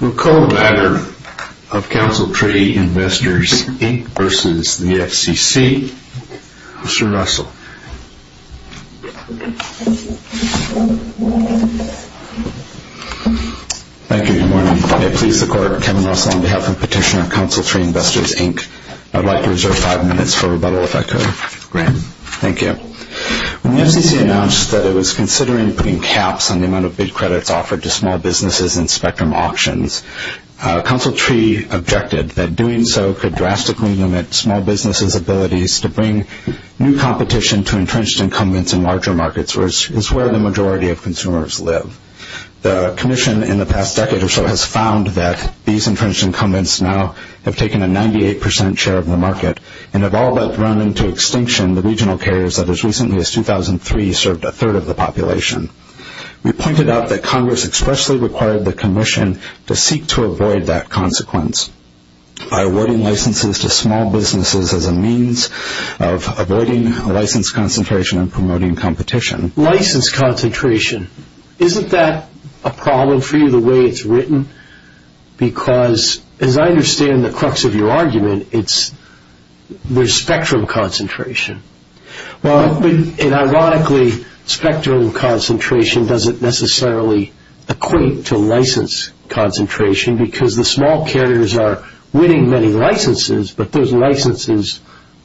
We'll call the matter of Council Tree Investors Inc v. FC Cetal. Mr. Russell. Thank you. Good morning. I please the court. Kevin Russell on behalf of the petitioner of Council Tree Investors Inc. I'd like to reserve five minutes for rebuttal if I could. Great. Thank you. When the FCC announced that it was considering putting caps on the amount of bid credits offered to small businesses in spectrum auctions, Council Tree objected that doing so could drastically limit small businesses' abilities to bring new competition to entrenched incumbents in larger markets, which is where the majority of consumers live. The commission in the past decade or so has found that these entrenched incumbents now have taken a 98 percent share of the market and have all but run into extinction the regional carriers that as recently as 2003 served a third of the population. We pointed out that Congress expressly required the commission to seek to avoid that consequence by awarding licenses to small businesses as a means of avoiding license concentration and promoting competition. License concentration. Isn't that a problem for you the way it's written? Because, as I understand the crux of your argument, there's spectrum concentration. Ironically, spectrum concentration doesn't necessarily equate to license concentration because the small carriers are winning many licenses, but those licenses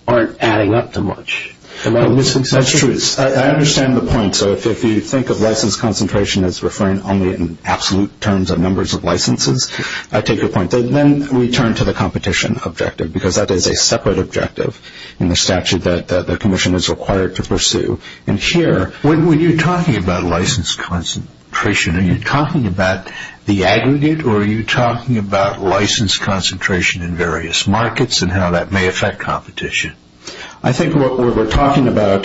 aren't adding up to much. That's true. I understand the point. If you think of license concentration as referring only in absolute terms of numbers of licenses, I take your point. Then we turn to the competition objective because that is a separate objective in the statute that the commission is required to pursue. When you're talking about license concentration, are you talking about the aggregate or are you talking about license concentration in various markets and how that may affect competition? I think we're talking about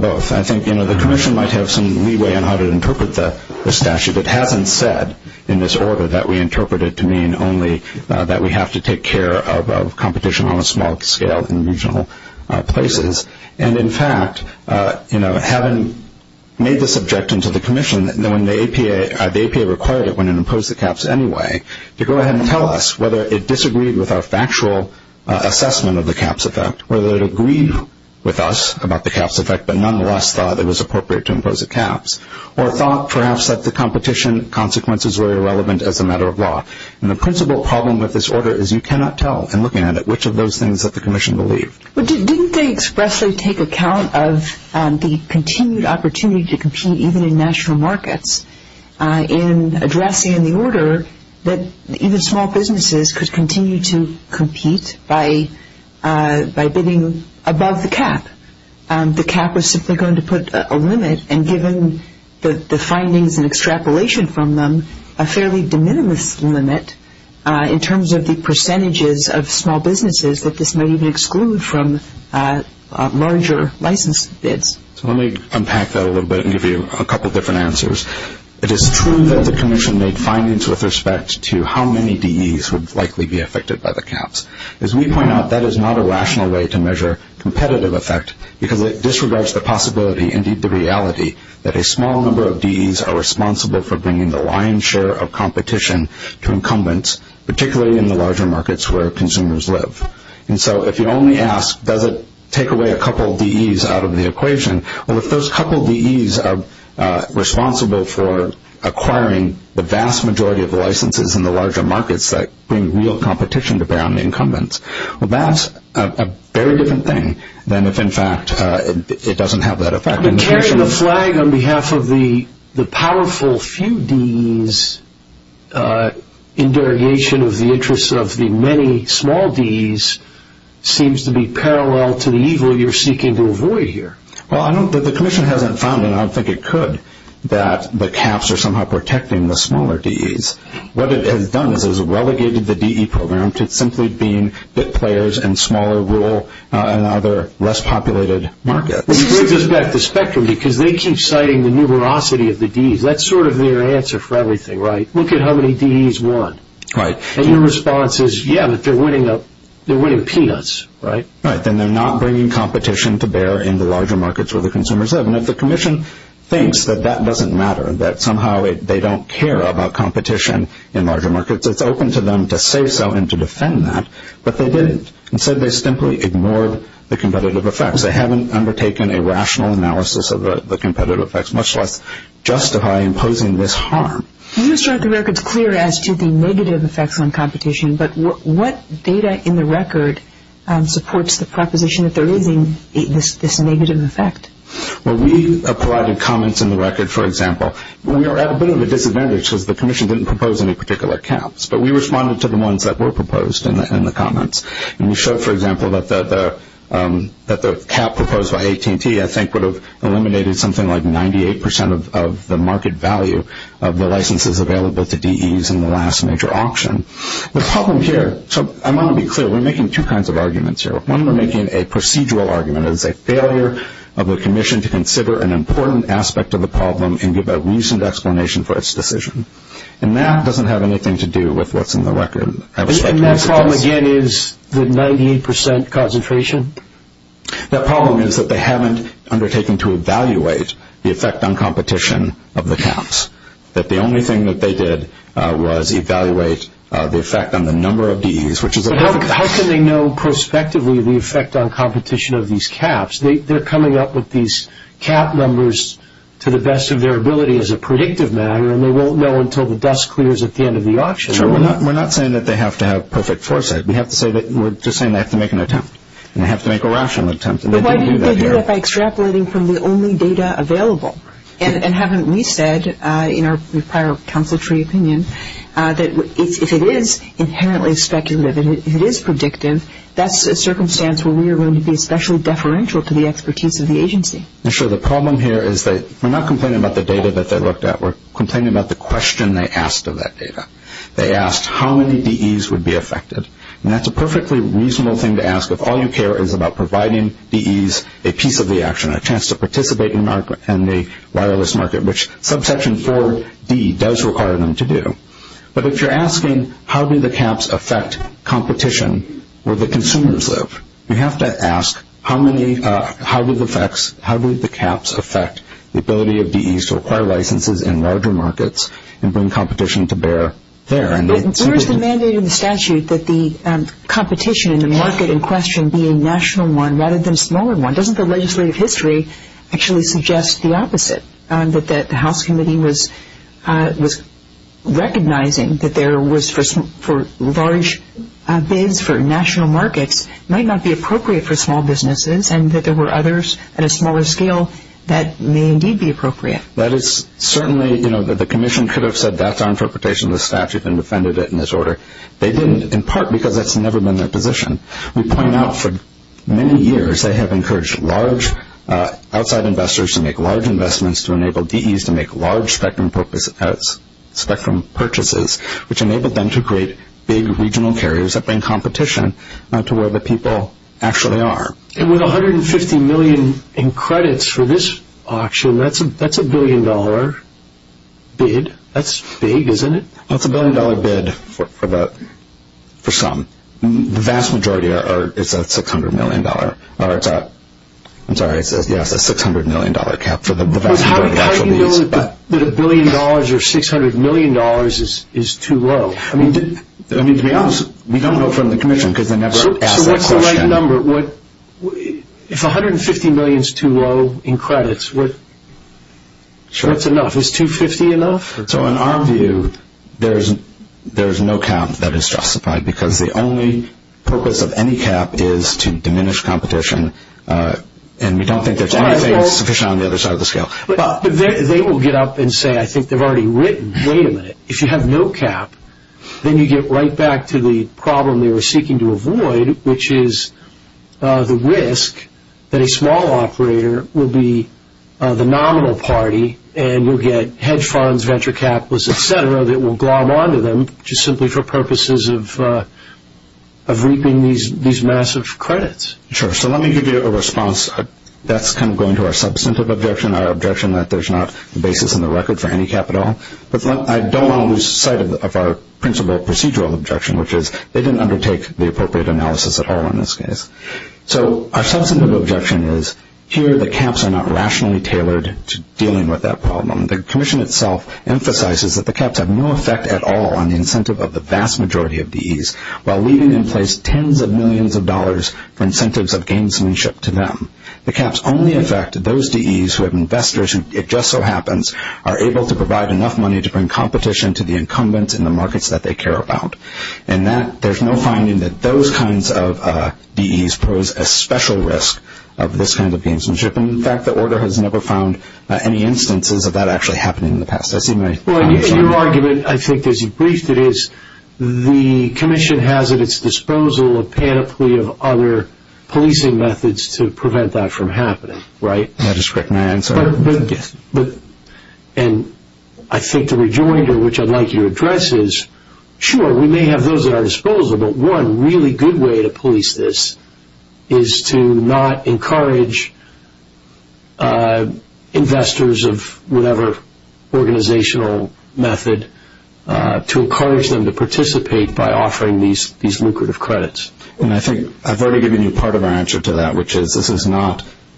both. I think the commission might have some leeway on how to interpret the statute. It hasn't said in this order that we interpret it to mean only that we have to take care of competition on a small scale in regional places. In fact, having made this objection to the commission, the APA required it when it imposed the caps anyway, to go ahead and tell us whether it disagreed with our factual assessment of the caps effect, whether it agreed with us about the caps effect but nonetheless thought it was appropriate to impose the caps, or thought perhaps that the competition consequences were irrelevant as a matter of law. The principal problem with this order is you cannot tell in looking at it which of those things that the commission believed. Didn't they expressly take account of the continued opportunity to compete even in national markets in addressing in the order that even small businesses could continue to compete by bidding above the cap? The cap was simply going to put a limit and given the findings and extrapolation from them, a fairly de minimis limit in terms of the percentages of small businesses that this may even exclude from larger license bids. Let me unpack that a little bit and give you a couple of different answers. It is true that the commission made findings with respect to how many DEs would likely be affected by the caps. As we point out, that is not a rational way to measure competitive effect because it disregards the possibility, indeed the reality, that a small number of DEs are responsible for bringing the lion's share of competition to incumbents, particularly in the larger markets where consumers live. If you only ask does it take away a couple of DEs out of the equation, if those couple of DEs are responsible for acquiring the vast majority of licenses in the larger markets that bring real competition to bear on incumbents, that is a very different thing than if in fact it doesn't have that effect. Carrying the flag on behalf of the powerful few DEs in derogation of the interests of the many small DEs seems to be parallel to the evil you are seeking to avoid here. The commission hasn't found, and I don't think it could, that the caps are somehow protecting the smaller DEs. What it has done is it has relegated the DE program to simply being players in smaller rural and other less populated markets. You bring this back to Spectrum because they keep citing the numerosity of the DEs. That's sort of their answer for everything, right? Look at how many DEs won. And your response is, yeah, but they're winning peanuts, right? Right, and they're not bringing competition to bear in the larger markets where the consumers live. And if the commission thinks that that doesn't matter, that somehow they don't care about competition in larger markets, it's open to them to say so and to defend that, but they didn't. Instead they simply ignored the competitive effects. In other words, they haven't undertaken a rational analysis of the competitive effects, much less justify imposing this harm. You struck the records clear as to the negative effects on competition, but what data in the record supports the proposition that there is this negative effect? Well, we provided comments in the record, for example. We were at a bit of a disadvantage because the commission didn't propose any particular caps, but we responded to the ones that were proposed in the comments. And we showed, for example, that the cap proposed by AT&T, I think, would have eliminated something like 98% of the market value of the licenses available to DEs in the last major auction. The problem here, so I want to be clear, we're making two kinds of arguments here. One, we're making a procedural argument. It is a failure of the commission to consider an important aspect of the problem and give a reasoned explanation for its decision. And that doesn't have anything to do with what's in the record. And that problem, again, is the 98% concentration? That problem is that they haven't undertaken to evaluate the effect on competition of the caps, that the only thing that they did was evaluate the effect on the number of DEs, which is a lot of caps. But how can they know prospectively the effect on competition of these caps? They're coming up with these cap numbers to the best of their ability as a predictive matter, and they won't know until the dust clears at the end of the auction. We're not saying that they have to have perfect foresight. We're just saying they have to make an attempt, and they have to make a rational attempt. But why do they do that by extrapolating from the only data available? And haven't we said in our prior consultry opinion that if it is inherently speculative, if it is predictive, that's a circumstance where we are going to be especially deferential to the expertise of the agency. Sure, the problem here is that we're not complaining about the data that they looked at. We're complaining about the question they asked of that data. They asked how many DEs would be affected, and that's a perfectly reasonable thing to ask if all you care is about providing DEs a piece of the action, a chance to participate in the wireless market, which subsection 4d does require them to do. But if you're asking how do the caps affect competition, where the consumers live, you have to ask how do the caps affect the ability of DEs to acquire licenses in larger markets and bring competition to bear there. Where is the mandate in the statute that the competition in the market in question be a national one rather than a smaller one? Doesn't the legislative history actually suggest the opposite, that the House committee was recognizing that there was for large bids for national markets might not be appropriate for small businesses and that there were others at a smaller scale that may indeed be appropriate? Certainly the commission could have said that's our interpretation of the statute and defended it in this order. They didn't, in part because that's never been their position. We point out for many years they have encouraged large outside investors to make large investments to enable DEs to make large spectrum purchases, which enabled them to create big regional carriers that bring competition to where the people actually are. With $150 million in credits for this auction, that's a billion dollar bid. That's big, isn't it? That's a billion dollar bid for some. The vast majority is a $600 million cap. How do you know that a billion dollars or $600 million is too low? To be honest, we don't know from the commission because they never ask that question. If $150 million is too low in credits, what's enough? Is $250 million enough? In our view, there's no cap that is justified because the only purpose of any cap is to diminish competition and we don't think there's anything sufficient on the other side of the scale. They will get up and say, I think they've already written, wait a minute, if you have no cap, then you get right back to the problem they were seeking to avoid, which is the risk that a small operator will be the nominal party and you'll get hedge funds, venture capitalists, et cetera, that will glom onto them just simply for purposes of reaping these massive credits. Sure. So let me give you a response. That's kind of going to our substantive objection, our objection that there's not a basis in the record for any cap at all. But I don't want to lose sight of our principal procedural objection, which is they didn't undertake the appropriate analysis at all in this case. So our substantive objection is here the caps are not rationally tailored to dealing with that problem. The commission itself emphasizes that the caps have no effect at all on the incentive of the vast majority of DEs while leaving in place tens of millions of dollars for incentives of gamesmanship to them. The caps only affect those DEs who have investors who, if just so happens, are able to provide enough money to bring competition to the incumbents in the markets that they care about. And there's no finding that those kinds of DEs pose a special risk of this kind of gamesmanship. In fact, the order has never found any instances of that actually happening in the past. Your argument, I think, as you briefed it is the commission has at its disposal a panoply of other policing methods to prevent that from happening, right? May I just correct my answer? Yes. And I think the rejoinder, which I'd like you to address, is sure, we may have those at our disposal, but one really good way to police this is to not encourage investors of whatever organizational method to encourage them to participate by offering these lucrative credits. And I think I've already given you part of our answer to that, which is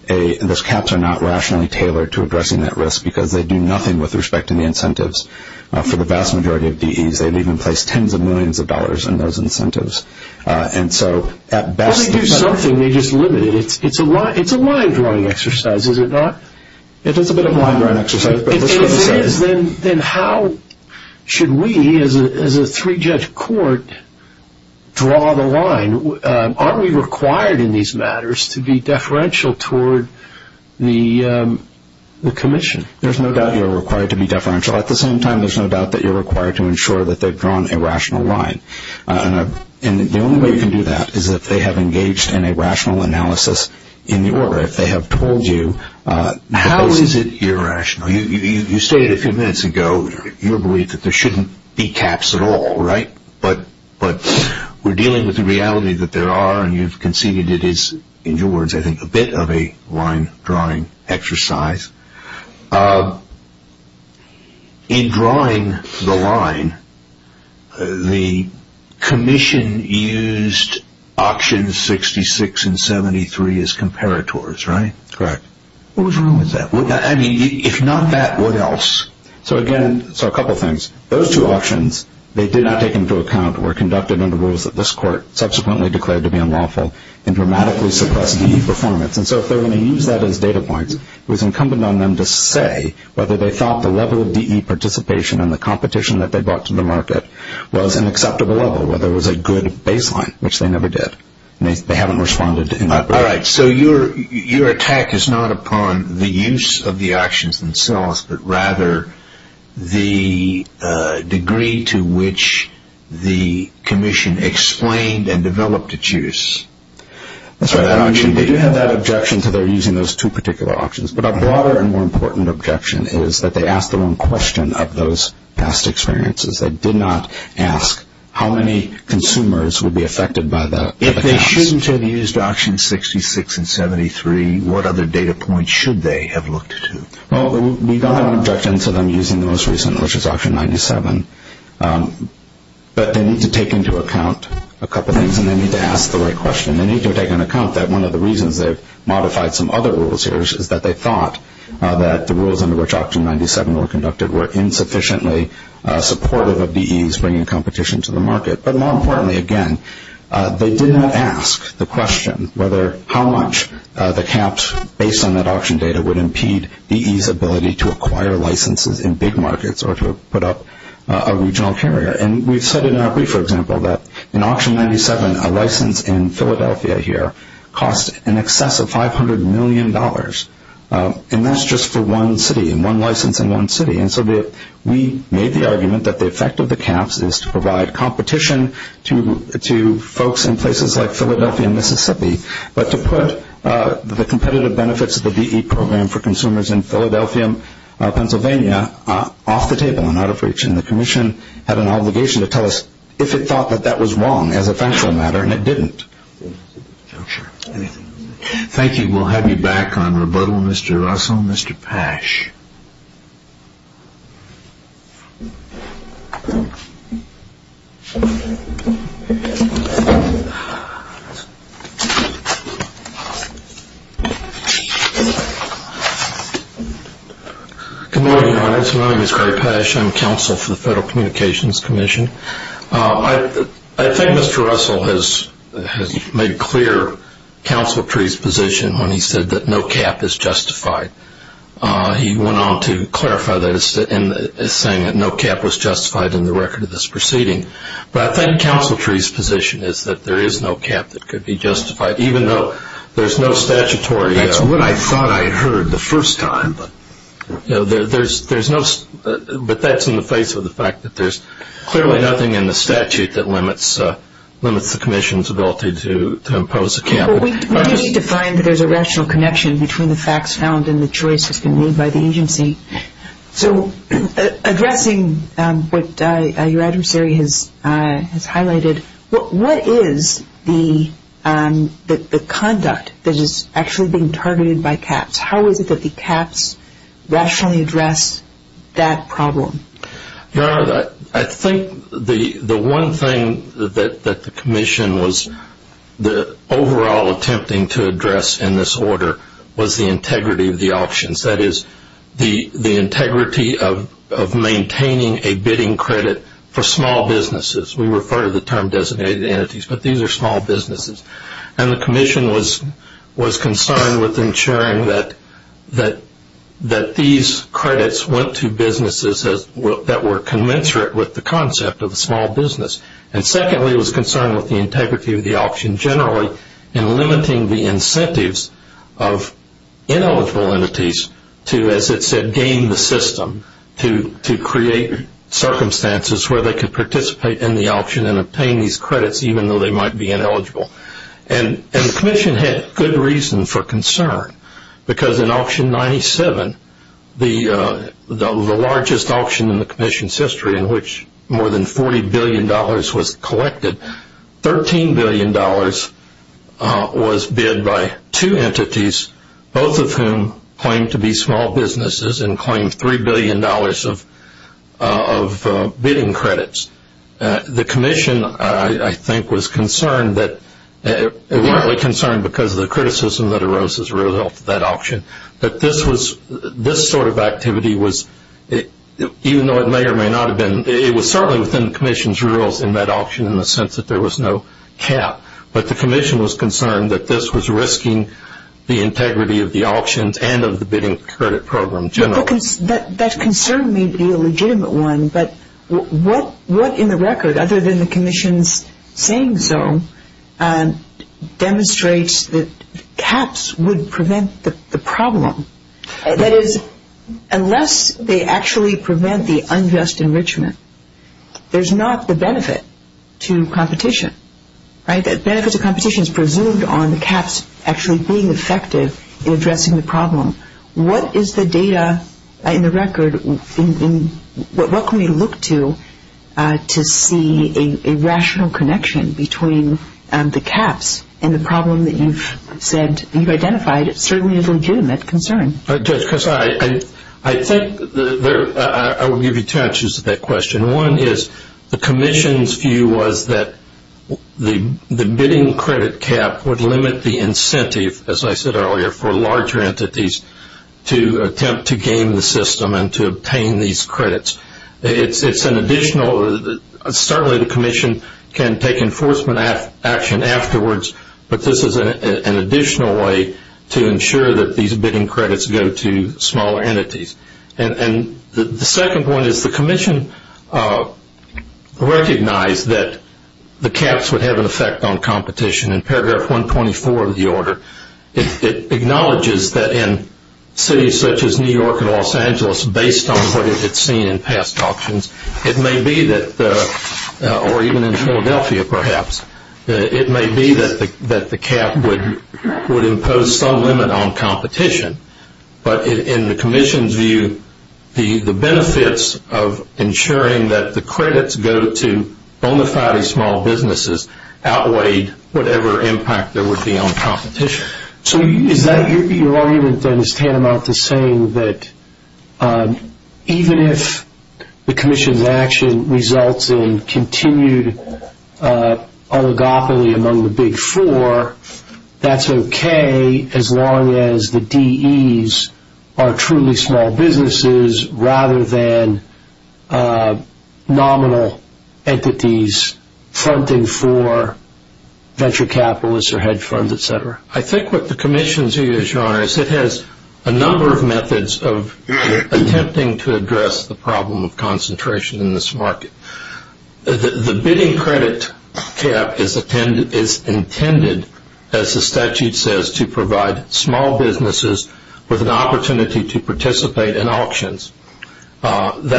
those caps are not rationally tailored to addressing that risk because they do nothing with respect to the incentives. For the vast majority of DEs, they leave in place tens of millions of dollars in those incentives. Well, they do something. They just limit it. It's a line-drawing exercise, is it not? It is a bit of a line-drawing exercise. If it is, then how should we, as a three-judge court, draw the line? Are we required in these matters to be deferential toward the commission? There's no doubt you're required to be deferential. At the same time, there's no doubt that you're required to ensure that they've drawn a rational line. And the only way you can do that is if they have engaged in a rational analysis in the order. If they have told you, how is it irrational? You stated a few minutes ago your belief that there shouldn't be caps at all, right? But we're dealing with the reality that there are, and you've conceded it is, in your words, I think, a bit of a line-drawing exercise. In drawing the line, the commission used auctions 66 and 73 as comparators, right? Correct. What was wrong with that? I mean, if not that, what else? So, again, a couple things. Those two auctions, they did not take into account, were conducted under rules that this court subsequently declared to be unlawful and dramatically suppressed DE performance. And so if they're going to use that as data points, it was incumbent on them to say whether they thought the level of DE participation and the competition that they brought to the market was an acceptable level, whether it was a good baseline, which they never did. They haven't responded in that regard. All right. So your attack is not upon the use of the auctions themselves, but rather the degree to which the commission explained and developed its use. That's right. They do have that objection to their using those two particular auctions. But a broader and more important objection is that they asked the wrong question of those past experiences. They did not ask how many consumers would be affected by the caps. If they shouldn't have used auction 66 and 73, what other data points should they have looked to? Well, we don't have an objection to them using the most recent, which is auction 97. But they need to take into account a couple things, and they need to ask the right question. They need to take into account that one of the reasons they've modified some other rules here is that they thought that the rules under which auction 97 were conducted were insufficiently supportive of DEs bringing competition to the market. But more importantly, again, they did not ask the question whether how much the caps, based on that auction data, would impede DEs' ability to acquire licenses in big markets or to put up a regional carrier. And we've said in our brief, for example, that in auction 97, a license in Philadelphia here cost in excess of $500 million, and that's just for one city and one license in one city. And so we made the argument that the effect of the caps is to provide competition to folks in places like Philadelphia and Mississippi, but to put the competitive benefits of the DE program for consumers in Philadelphia, Pennsylvania, off the table and out of reach. And the commission had an obligation to tell us if it thought that that was wrong as a factual matter, and it didn't. Thank you. We will have you back on rebuttal, Mr. Russell and Mr. Pasch. Good morning, Your Honor. My name is Craig Pasch. I'm counsel for the Federal Communications Commission. I think Mr. Russell has made clear Counsel Tree's position when he said that no cap is justified. He went on to clarify that as saying that no cap was justified in the record of this proceeding. But I think Counsel Tree's position is that there is no cap that could be justified, even though there's no statutory. That's what I thought I heard the first time. But that's in the face of the fact that there's clearly nothing in the statute that limits the commission's ability to impose a cap. We do need to find that there's a rational connection between the facts found and the choice that's been made by the agency. So addressing what your adversary has highlighted, how is it that the caps rationally address that problem? Your Honor, I think the one thing that the commission was overall attempting to address in this order was the integrity of the auctions. That is, the integrity of maintaining a bidding credit for small businesses. We refer to the term designated entities, but these are small businesses. And the commission was concerned with ensuring that these credits went to businesses that were commensurate with the concept of a small business. And secondly, it was concerned with the integrity of the auction generally in limiting the incentives of ineligible entities to, as it said, gain the system, to create circumstances where they could participate in the auction and obtain these credits even though they might be ineligible. And the commission had good reason for concern because in auction 97, the largest auction in the commission's history in which more than $40 billion was collected, $13 billion was bid by two entities, both of whom claimed to be small businesses and claimed $3 billion of bidding credits. The commission, I think, was concerned that, evidently concerned because of the criticism that arose as a result of that auction, but this sort of activity was, even though it may or may not have been, it was certainly within the commission's rules in that auction in the sense that there was no cap. But the commission was concerned that this was risking the integrity of the auctions and of the bidding credit program generally. That concern may be a legitimate one, but what in the record, other than the commission's saying so, demonstrates that caps would prevent the problem? That is, unless they actually prevent the unjust enrichment, there's not the benefit to competition. The benefit to competition is presumed on the caps actually being effective in addressing the problem. What is the data in the record? What can we look to to see a rational connection between the caps and the problem that you've said you've identified? It certainly is a legitimate concern. Judge, I think I would give you two answers to that question. One is the commission's view was that the bidding credit cap would limit the incentive, as I said earlier, for larger entities to attempt to game the system and to obtain these credits. It's an additional, certainly the commission can take enforcement action afterwards, but this is an additional way to ensure that these bidding credits go to smaller entities. And the second one is the commission recognized that the caps would have an effect on competition. In paragraph 124 of the order, it acknowledges that in cities such as New York and Los Angeles, based on what it's seen in past auctions, it may be that, or even in Philadelphia perhaps, it may be that the cap would impose some limit on competition. But in the commission's view, the benefits of ensuring that the credits go to bona fide small businesses outweighed whatever impact there would be on competition. So your argument then is tantamount to saying that even if the commission's action results in continued oligopoly among the big four, that's okay as long as the DEs are truly small businesses rather than nominal entities funding for venture capitalists or hedge funds, et cetera? I think what the commission's view is, Your Honor, is it has a number of methods of attempting to address the problem of concentration in this market. The bidding credit cap is intended, as the statute says, to provide small businesses with an opportunity to participate in auctions. It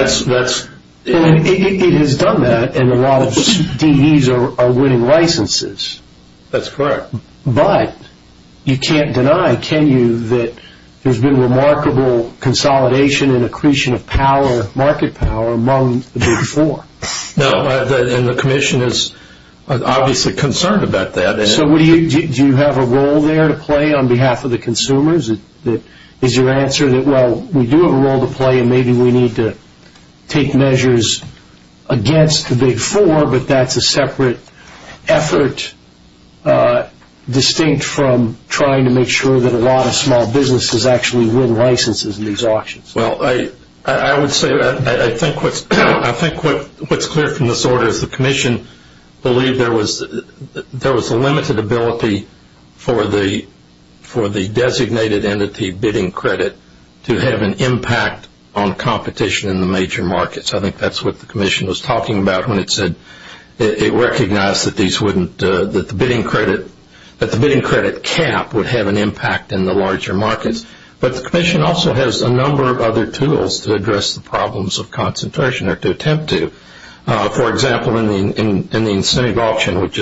has done that, and a lot of DEs are winning licenses. That's correct. But you can't deny, can you, that there's been remarkable consolidation and accretion of market power among the big four. No, and the commission is obviously concerned about that. So do you have a role there to play on behalf of the consumers? Is your answer that, well, we do have a role to play, and maybe we need to take measures against the big four, but that's a separate effort distinct from trying to make sure that a lot of small businesses actually win licenses in these auctions? Well, I would say I think what's clear from this order is the commission believed that there was a limited ability for the designated entity bidding credit to have an impact on competition in the major markets. I think that's what the commission was talking about when it said it recognized that the bidding credit cap would have an impact in the larger markets. But the commission also has a number of other tools to address the problems of concentration or to attempt to. For example, in the incentive auction, which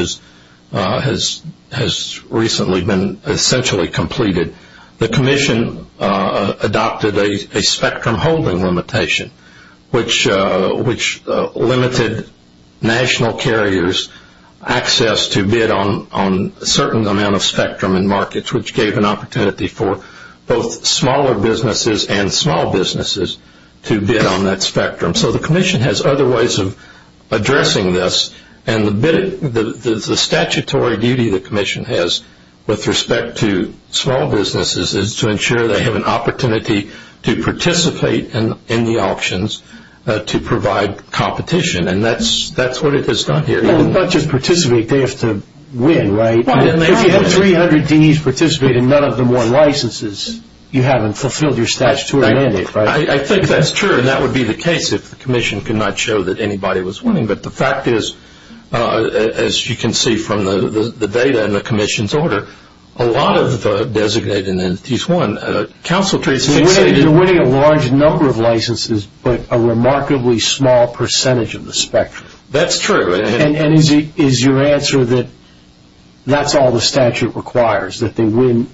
has recently been essentially completed, the commission adopted a spectrum holding limitation, which limited national carriers' access to bid on a certain amount of spectrum in markets, which gave an opportunity for both smaller businesses and small businesses to bid on that spectrum. So the commission has other ways of addressing this, and the statutory duty the commission has with respect to small businesses is to ensure they have an opportunity to participate in the auctions to provide competition, and that's what it has done here. Well, not just participate, they have to win, right? If you have 300 DEs participate and none of them won licenses, you haven't fulfilled your statutory mandate, right? I think that's true, and that would be the case if the commission could not show that anybody was winning. But the fact is, as you can see from the data in the commission's order, a lot of designated entities won. They're winning a large number of licenses, but a remarkably small percentage of the spectrum. That's true. And is your answer that that's all the statute requires, that they win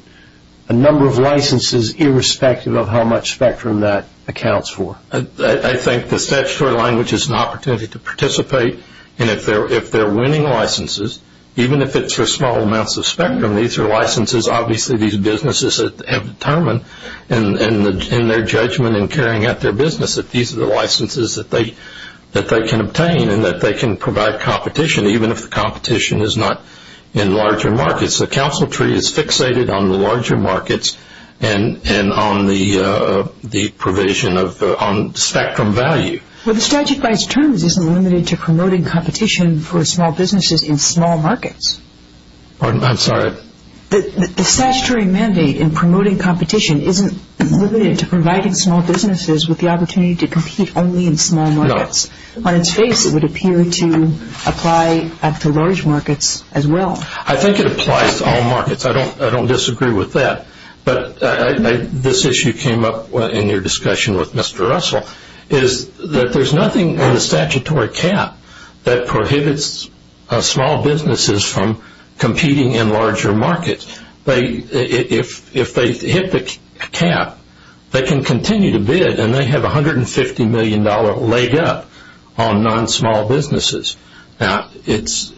a number of licenses irrespective of how much spectrum that accounts for? I think the statutory language is an opportunity to participate, and if they're winning licenses, even if it's for small amounts of spectrum, these are licenses obviously these businesses have determined in their judgment and carrying out their business that these are the licenses that they can obtain and that they can provide competition, even if the competition is not in larger markets. The council tree is fixated on the larger markets and on the provision of spectrum value. Well, the statute by its terms isn't limited to promoting competition for small businesses in small markets. Pardon? I'm sorry? The statutory mandate in promoting competition isn't limited to providing small businesses with the opportunity to compete only in small markets. No. On its face, it would appear to apply to large markets as well. I think it applies to all markets. I don't disagree with that, but this issue came up in your discussion with Mr. Russell, is that there's nothing in the statutory cap that prohibits small businesses from competing in larger markets. If they hit the cap, they can continue to bid, and they have $150 million laid up on non-small businesses. Now, it's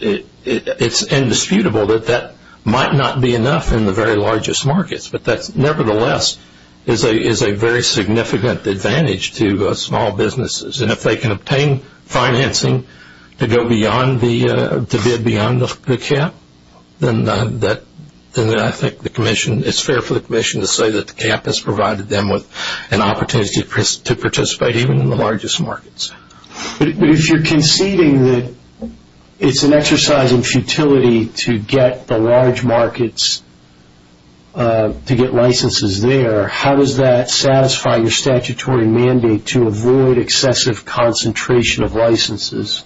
indisputable that that might not be enough in the very largest markets, but that nevertheless is a very significant advantage to small businesses, and if they can obtain financing to go beyond the cap, then I think it's fair for the commission to say that the cap has provided them with an opportunity to participate even in the largest markets. But if you're conceding that it's an exercise in futility to get the large markets to get licenses there, how does that satisfy your statutory mandate to avoid excessive concentration of licenses?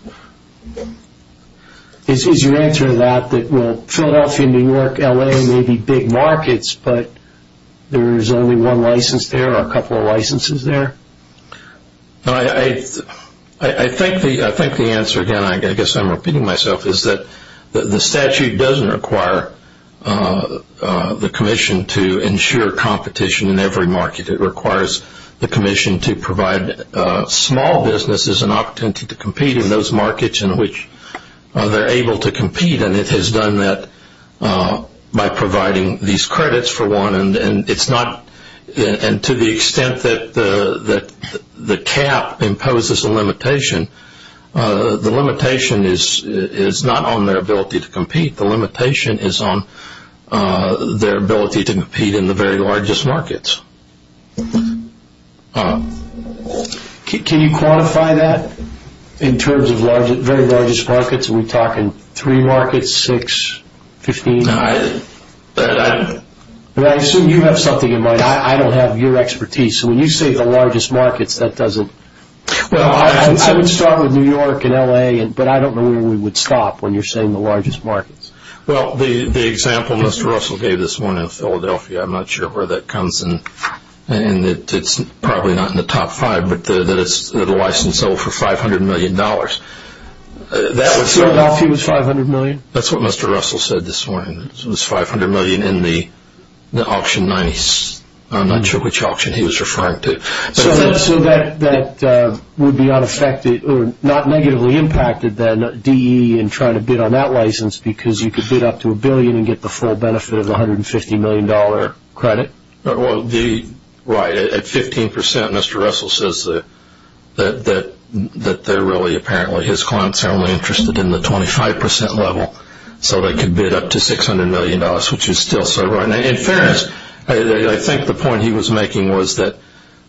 Is your answer to that that, well, Philadelphia, New York, L.A. may be big markets, but there is only one license there or a couple of licenses there? I think the answer, again, I guess I'm repeating myself, is that the statute doesn't require the commission to ensure competition in every market. It requires the commission to provide small businesses an opportunity to compete in those markets in which they're able to compete, and it has done that by providing these credits for one, and to the extent that the cap imposes a limitation, the limitation is not on their ability to compete. The limitation is on their ability to compete in the very largest markets. Can you quantify that in terms of very largest markets? Are we talking three markets, six, 15? No. I assume you have something in mind. I don't have your expertise, so when you say the largest markets, that doesn't. Well, I would start with New York and L.A., but I don't know where we would stop when you're saying the largest markets. Well, the example Mr. Russell gave this morning of Philadelphia, I'm not sure where that comes in. It's probably not in the top five, but the license sold for $500 million. Philadelphia was $500 million? That's what Mr. Russell said this morning. It was $500 million in the auction 90s. I'm not sure which auction he was referring to. So that would be unaffected, or not negatively impacted then, DE and trying to bid on that license because you could bid up to a billion and get the full benefit of the $150 million credit? Right. At 15%, Mr. Russell says that they're really apparently his clients are only interested in the 25% level, so they could bid up to $600 million, which is still so. In fairness, I think the point he was making was that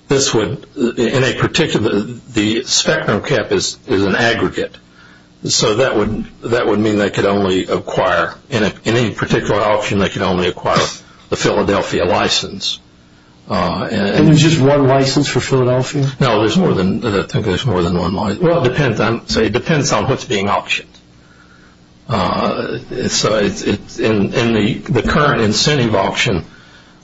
this would, in a particular, the spectrum cap is an aggregate, so that would mean they could only acquire, in any particular auction, they could only acquire the Philadelphia license. And there's just one license for Philadelphia? No, I think there's more than one license. Well, it depends on what's being auctioned. So in the current incentive auction,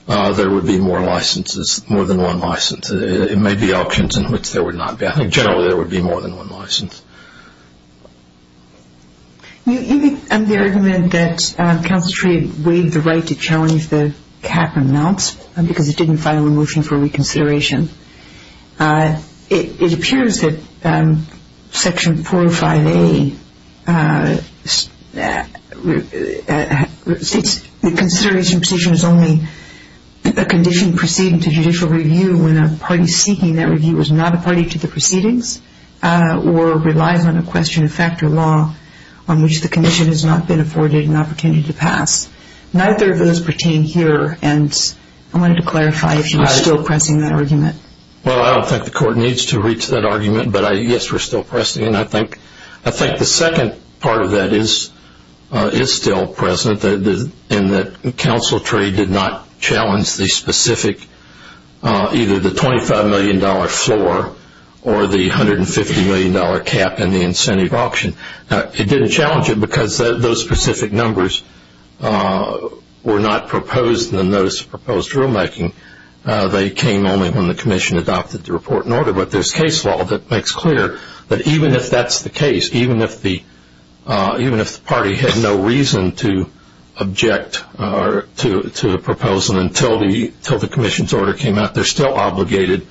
there would be more licenses, more than one license. It may be auctions in which there would not be. I think generally there would be more than one license. You make the argument that Counsel Tree waived the right to challenge the cap amounts because it didn't file a motion for reconsideration. It appears that Section 405A, the consideration position is only a condition proceeding to judicial review when a party seeking that review is not a party to the proceedings or relies on a question of fact or law on which the condition has not been afforded an opportunity to pass. Neither of those pertain here, and I wanted to clarify if you were still pressing that argument. Well, I don't think the Court needs to reach that argument, but, yes, we're still pressing it. And I think the second part of that is still present, in that Counsel Tree did not challenge the specific, either the $25 million floor or the $150 million cap in the incentive auction. It didn't challenge it because those specific numbers were not proposed in the notice of proposed rulemaking. They came only when the Commission adopted the report in order. But there's case law that makes clear that even if that's the case, even if the party had no reason to object to a proposal until the Commission's order came out, they're still obligated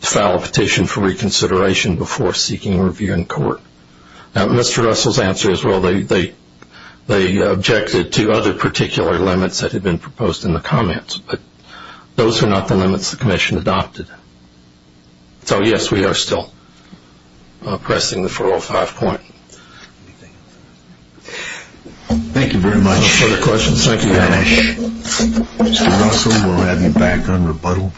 to file a petition for reconsideration before seeking review in court. Now, Mr. Russell's answer is, well, they objected to other particular limits that had been proposed in the comments, but those are not the limits the Commission adopted. So, yes, we are still pressing the 405 point. Thank you very much. No further questions? Thank you very much. Mr. Russell, we'll have you back on rebuttal.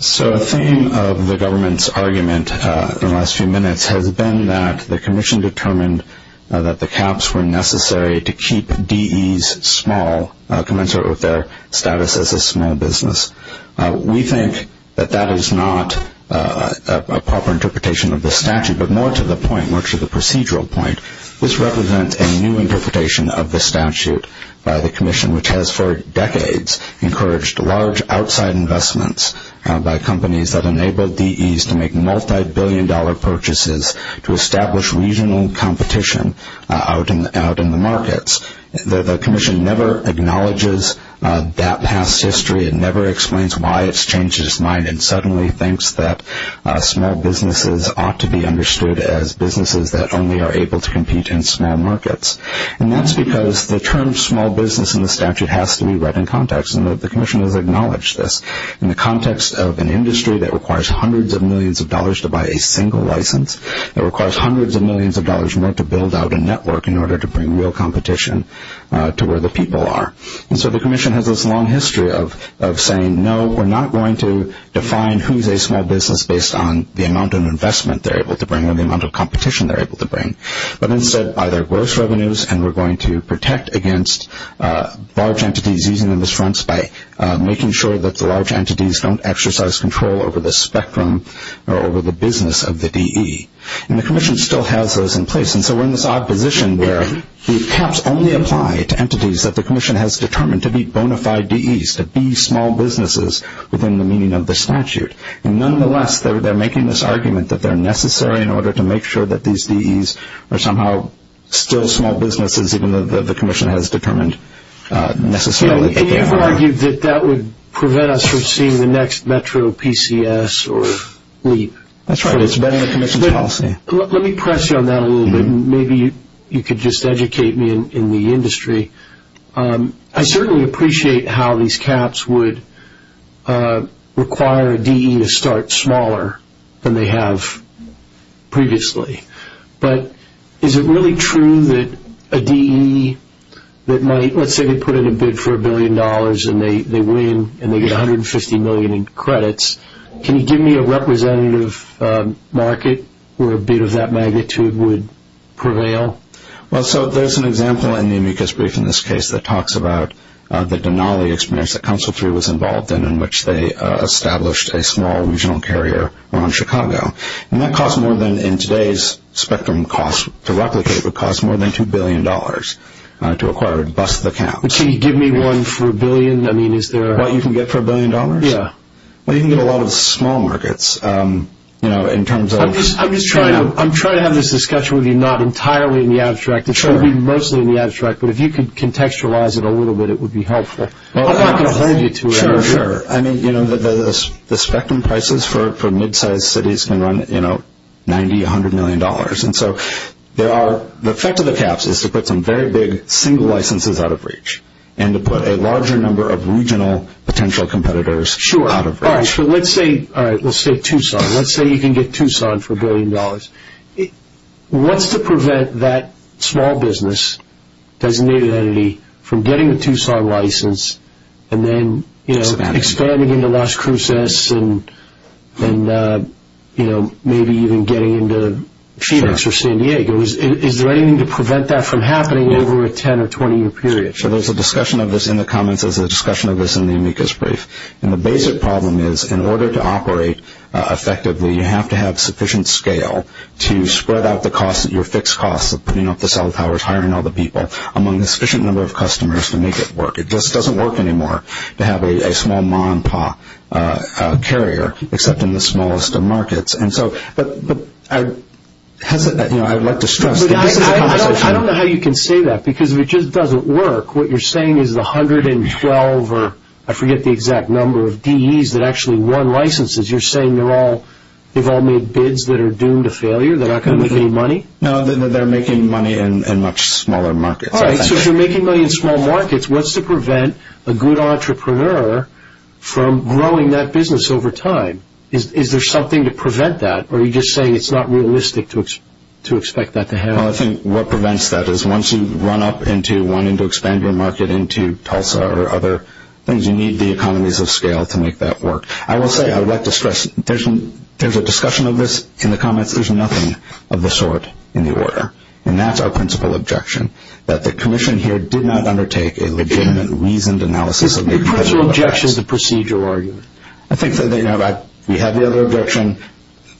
So the theme of the government's argument in the last few minutes has been that the Commission determined that the caps were necessary to keep DEs small, commensurate with their status as a small business. We think that that is not a proper interpretation of the statute, but more to the point, more to the procedural point, this represents a new interpretation of the statute by the Commission, which has for decades encouraged large outside investments by companies that enabled DEs to make competition out in the markets. The Commission never acknowledges that past history and never explains why it's changed its mind and suddenly thinks that small businesses ought to be understood as businesses that only are able to compete in small markets. And that's because the term small business in the statute has to be read in context, and the Commission has acknowledged this. In the context of an industry that requires hundreds of millions of dollars to buy a single license, that requires hundreds of millions of dollars more to build out a network in order to bring real competition to where the people are. And so the Commission has this long history of saying, no, we're not going to define who's a small business based on the amount of investment they're able to bring or the amount of competition they're able to bring, but instead by their gross revenues, and we're going to protect against large entities using them as fronts by making sure that the large entities don't exercise control over the spectrum or over the business of the DE. And the Commission still has those in place. And so we're in this odd position where the caps only apply to entities that the Commission has determined to be bona fide DEs, to be small businesses within the meaning of the statute. Nonetheless, they're making this argument that they're necessary in order to make sure that these DEs are somehow still small businesses, even though the Commission has determined necessarily that they are. And you've argued that that would prevent us from seeing the next metro PCS or LEAP. That's right. It's been in the Commission's policy. Let me press you on that a little bit. Maybe you could just educate me in the industry. I certainly appreciate how these caps would require a DE to start smaller than they have previously. But is it really true that a DE that might, let's say they put in a bid for a billion dollars and they win and they get $150 million in credits, can you give me a representative market where a bid of that magnitude would prevail? Well, so there's an example in the amicus brief in this case that talks about the Denali experience that Council 3 was involved in, in which they established a small regional carrier around Chicago. And that costs more than in today's spectrum costs. To replicate would cost more than $2 billion to acquire and bust the cap. Can you give me one for a billion? I mean, is there a... What you can get for a billion dollars? Yeah. Well, you can get a lot of small markets in terms of... I'm just trying to have this discussion with you not entirely in the abstract. It should be mostly in the abstract. But if you could contextualize it a little bit, it would be helpful. I'm not going to hold you to it. Sure, sure. I mean, you know, the spectrum prices for mid-sized cities can run, you know, 90, 100 million dollars. And so there are... The effect of the caps is to put some very big single licenses out of reach and to put a larger number of regional potential competitors out of reach. Sure. All right. So let's say, all right, let's say Tucson. Let's say you can get Tucson for a billion dollars. What's to prevent that small business designated entity from getting a Tucson license and then, you know, expanding into Las Cruces and, you know, maybe even getting into Phoenix or San Diego? Is there anything to prevent that from happening over a 10- or 20-year period? Sure. There's a discussion of this in the comments. There's a discussion of this in the amicus brief. And the basic problem is in order to operate effectively, you have to have sufficient scale to spread out the cost, your fixed cost of putting up the cell towers, hiring all the people, among a sufficient number of customers to make it work. It just doesn't work anymore to have a small ma and pa carrier except in the smallest of markets. And so I'd like to stress that this is a conversation. I don't know how you can say that because if it just doesn't work, what you're saying is the 112 or I forget the exact number of DEs that actually won licenses, you're saying they've all made bids that are doomed to failure? They're not going to make any money? All right. So if you're making money in small markets, what's to prevent a good entrepreneur from growing that business over time? Is there something to prevent that? Or are you just saying it's not realistic to expect that to happen? Well, I think what prevents that is once you run up into wanting to expand your market into Tulsa or other things, you need the economies of scale to make that work. I will say I would like to stress there's a discussion of this in the comments. There's nothing of the sort in the order. And that's our principal objection, that the commission here did not undertake a legitimate, reasoned analysis. It puts your objection as a procedural argument. I think that we have the other objection,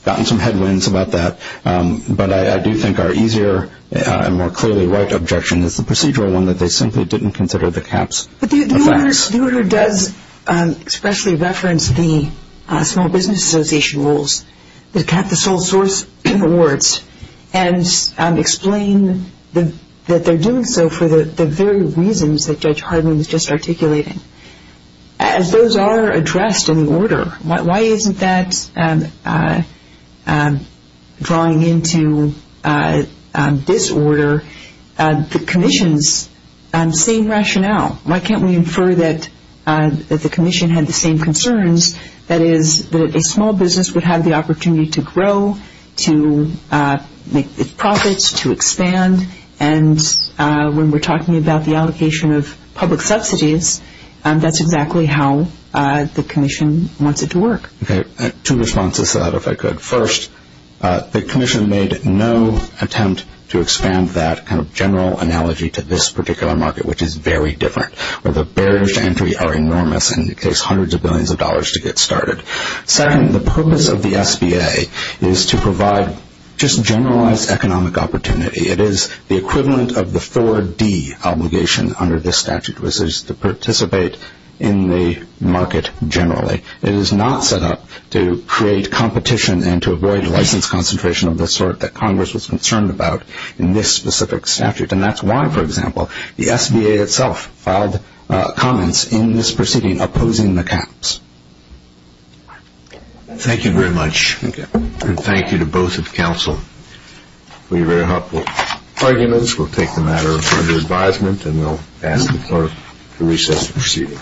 gotten some headwinds about that. But I do think our easier and more clearly right objection is the procedural one, that they simply didn't consider the caps. But the order does expressly reference the Small Business Association rules that cap the sole source awards and explain that they're doing so for the very reasons that Judge Harden was just articulating. As those are addressed in the order, why isn't that drawing into disorder the commission's same rationale? Why can't we infer that the commission had the same concerns, that is that a small business would have the opportunity to grow, to make profits, to expand. And when we're talking about the allocation of public subsidies, that's exactly how the commission wants it to work. Okay. Two responses to that, if I could. First, the commission made no attempt to expand that kind of general analogy to this particular market, which is very different, where the barriers to entry are enormous and it takes hundreds of billions of dollars to get started. Second, the purpose of the SBA is to provide just generalized economic opportunity. It is the equivalent of the 4D obligation under this statute, which is to participate in the market generally. It is not set up to create competition and to avoid license concentration of the sort that Congress was concerned about in this specific statute. And that's why, for example, the SBA itself filed comments in this proceeding opposing the caps. Thank you very much. Thank you. And thank you to both of the counsel for your very helpful arguments. We'll take the matter under advisement and we'll ask the court to recess the proceeding.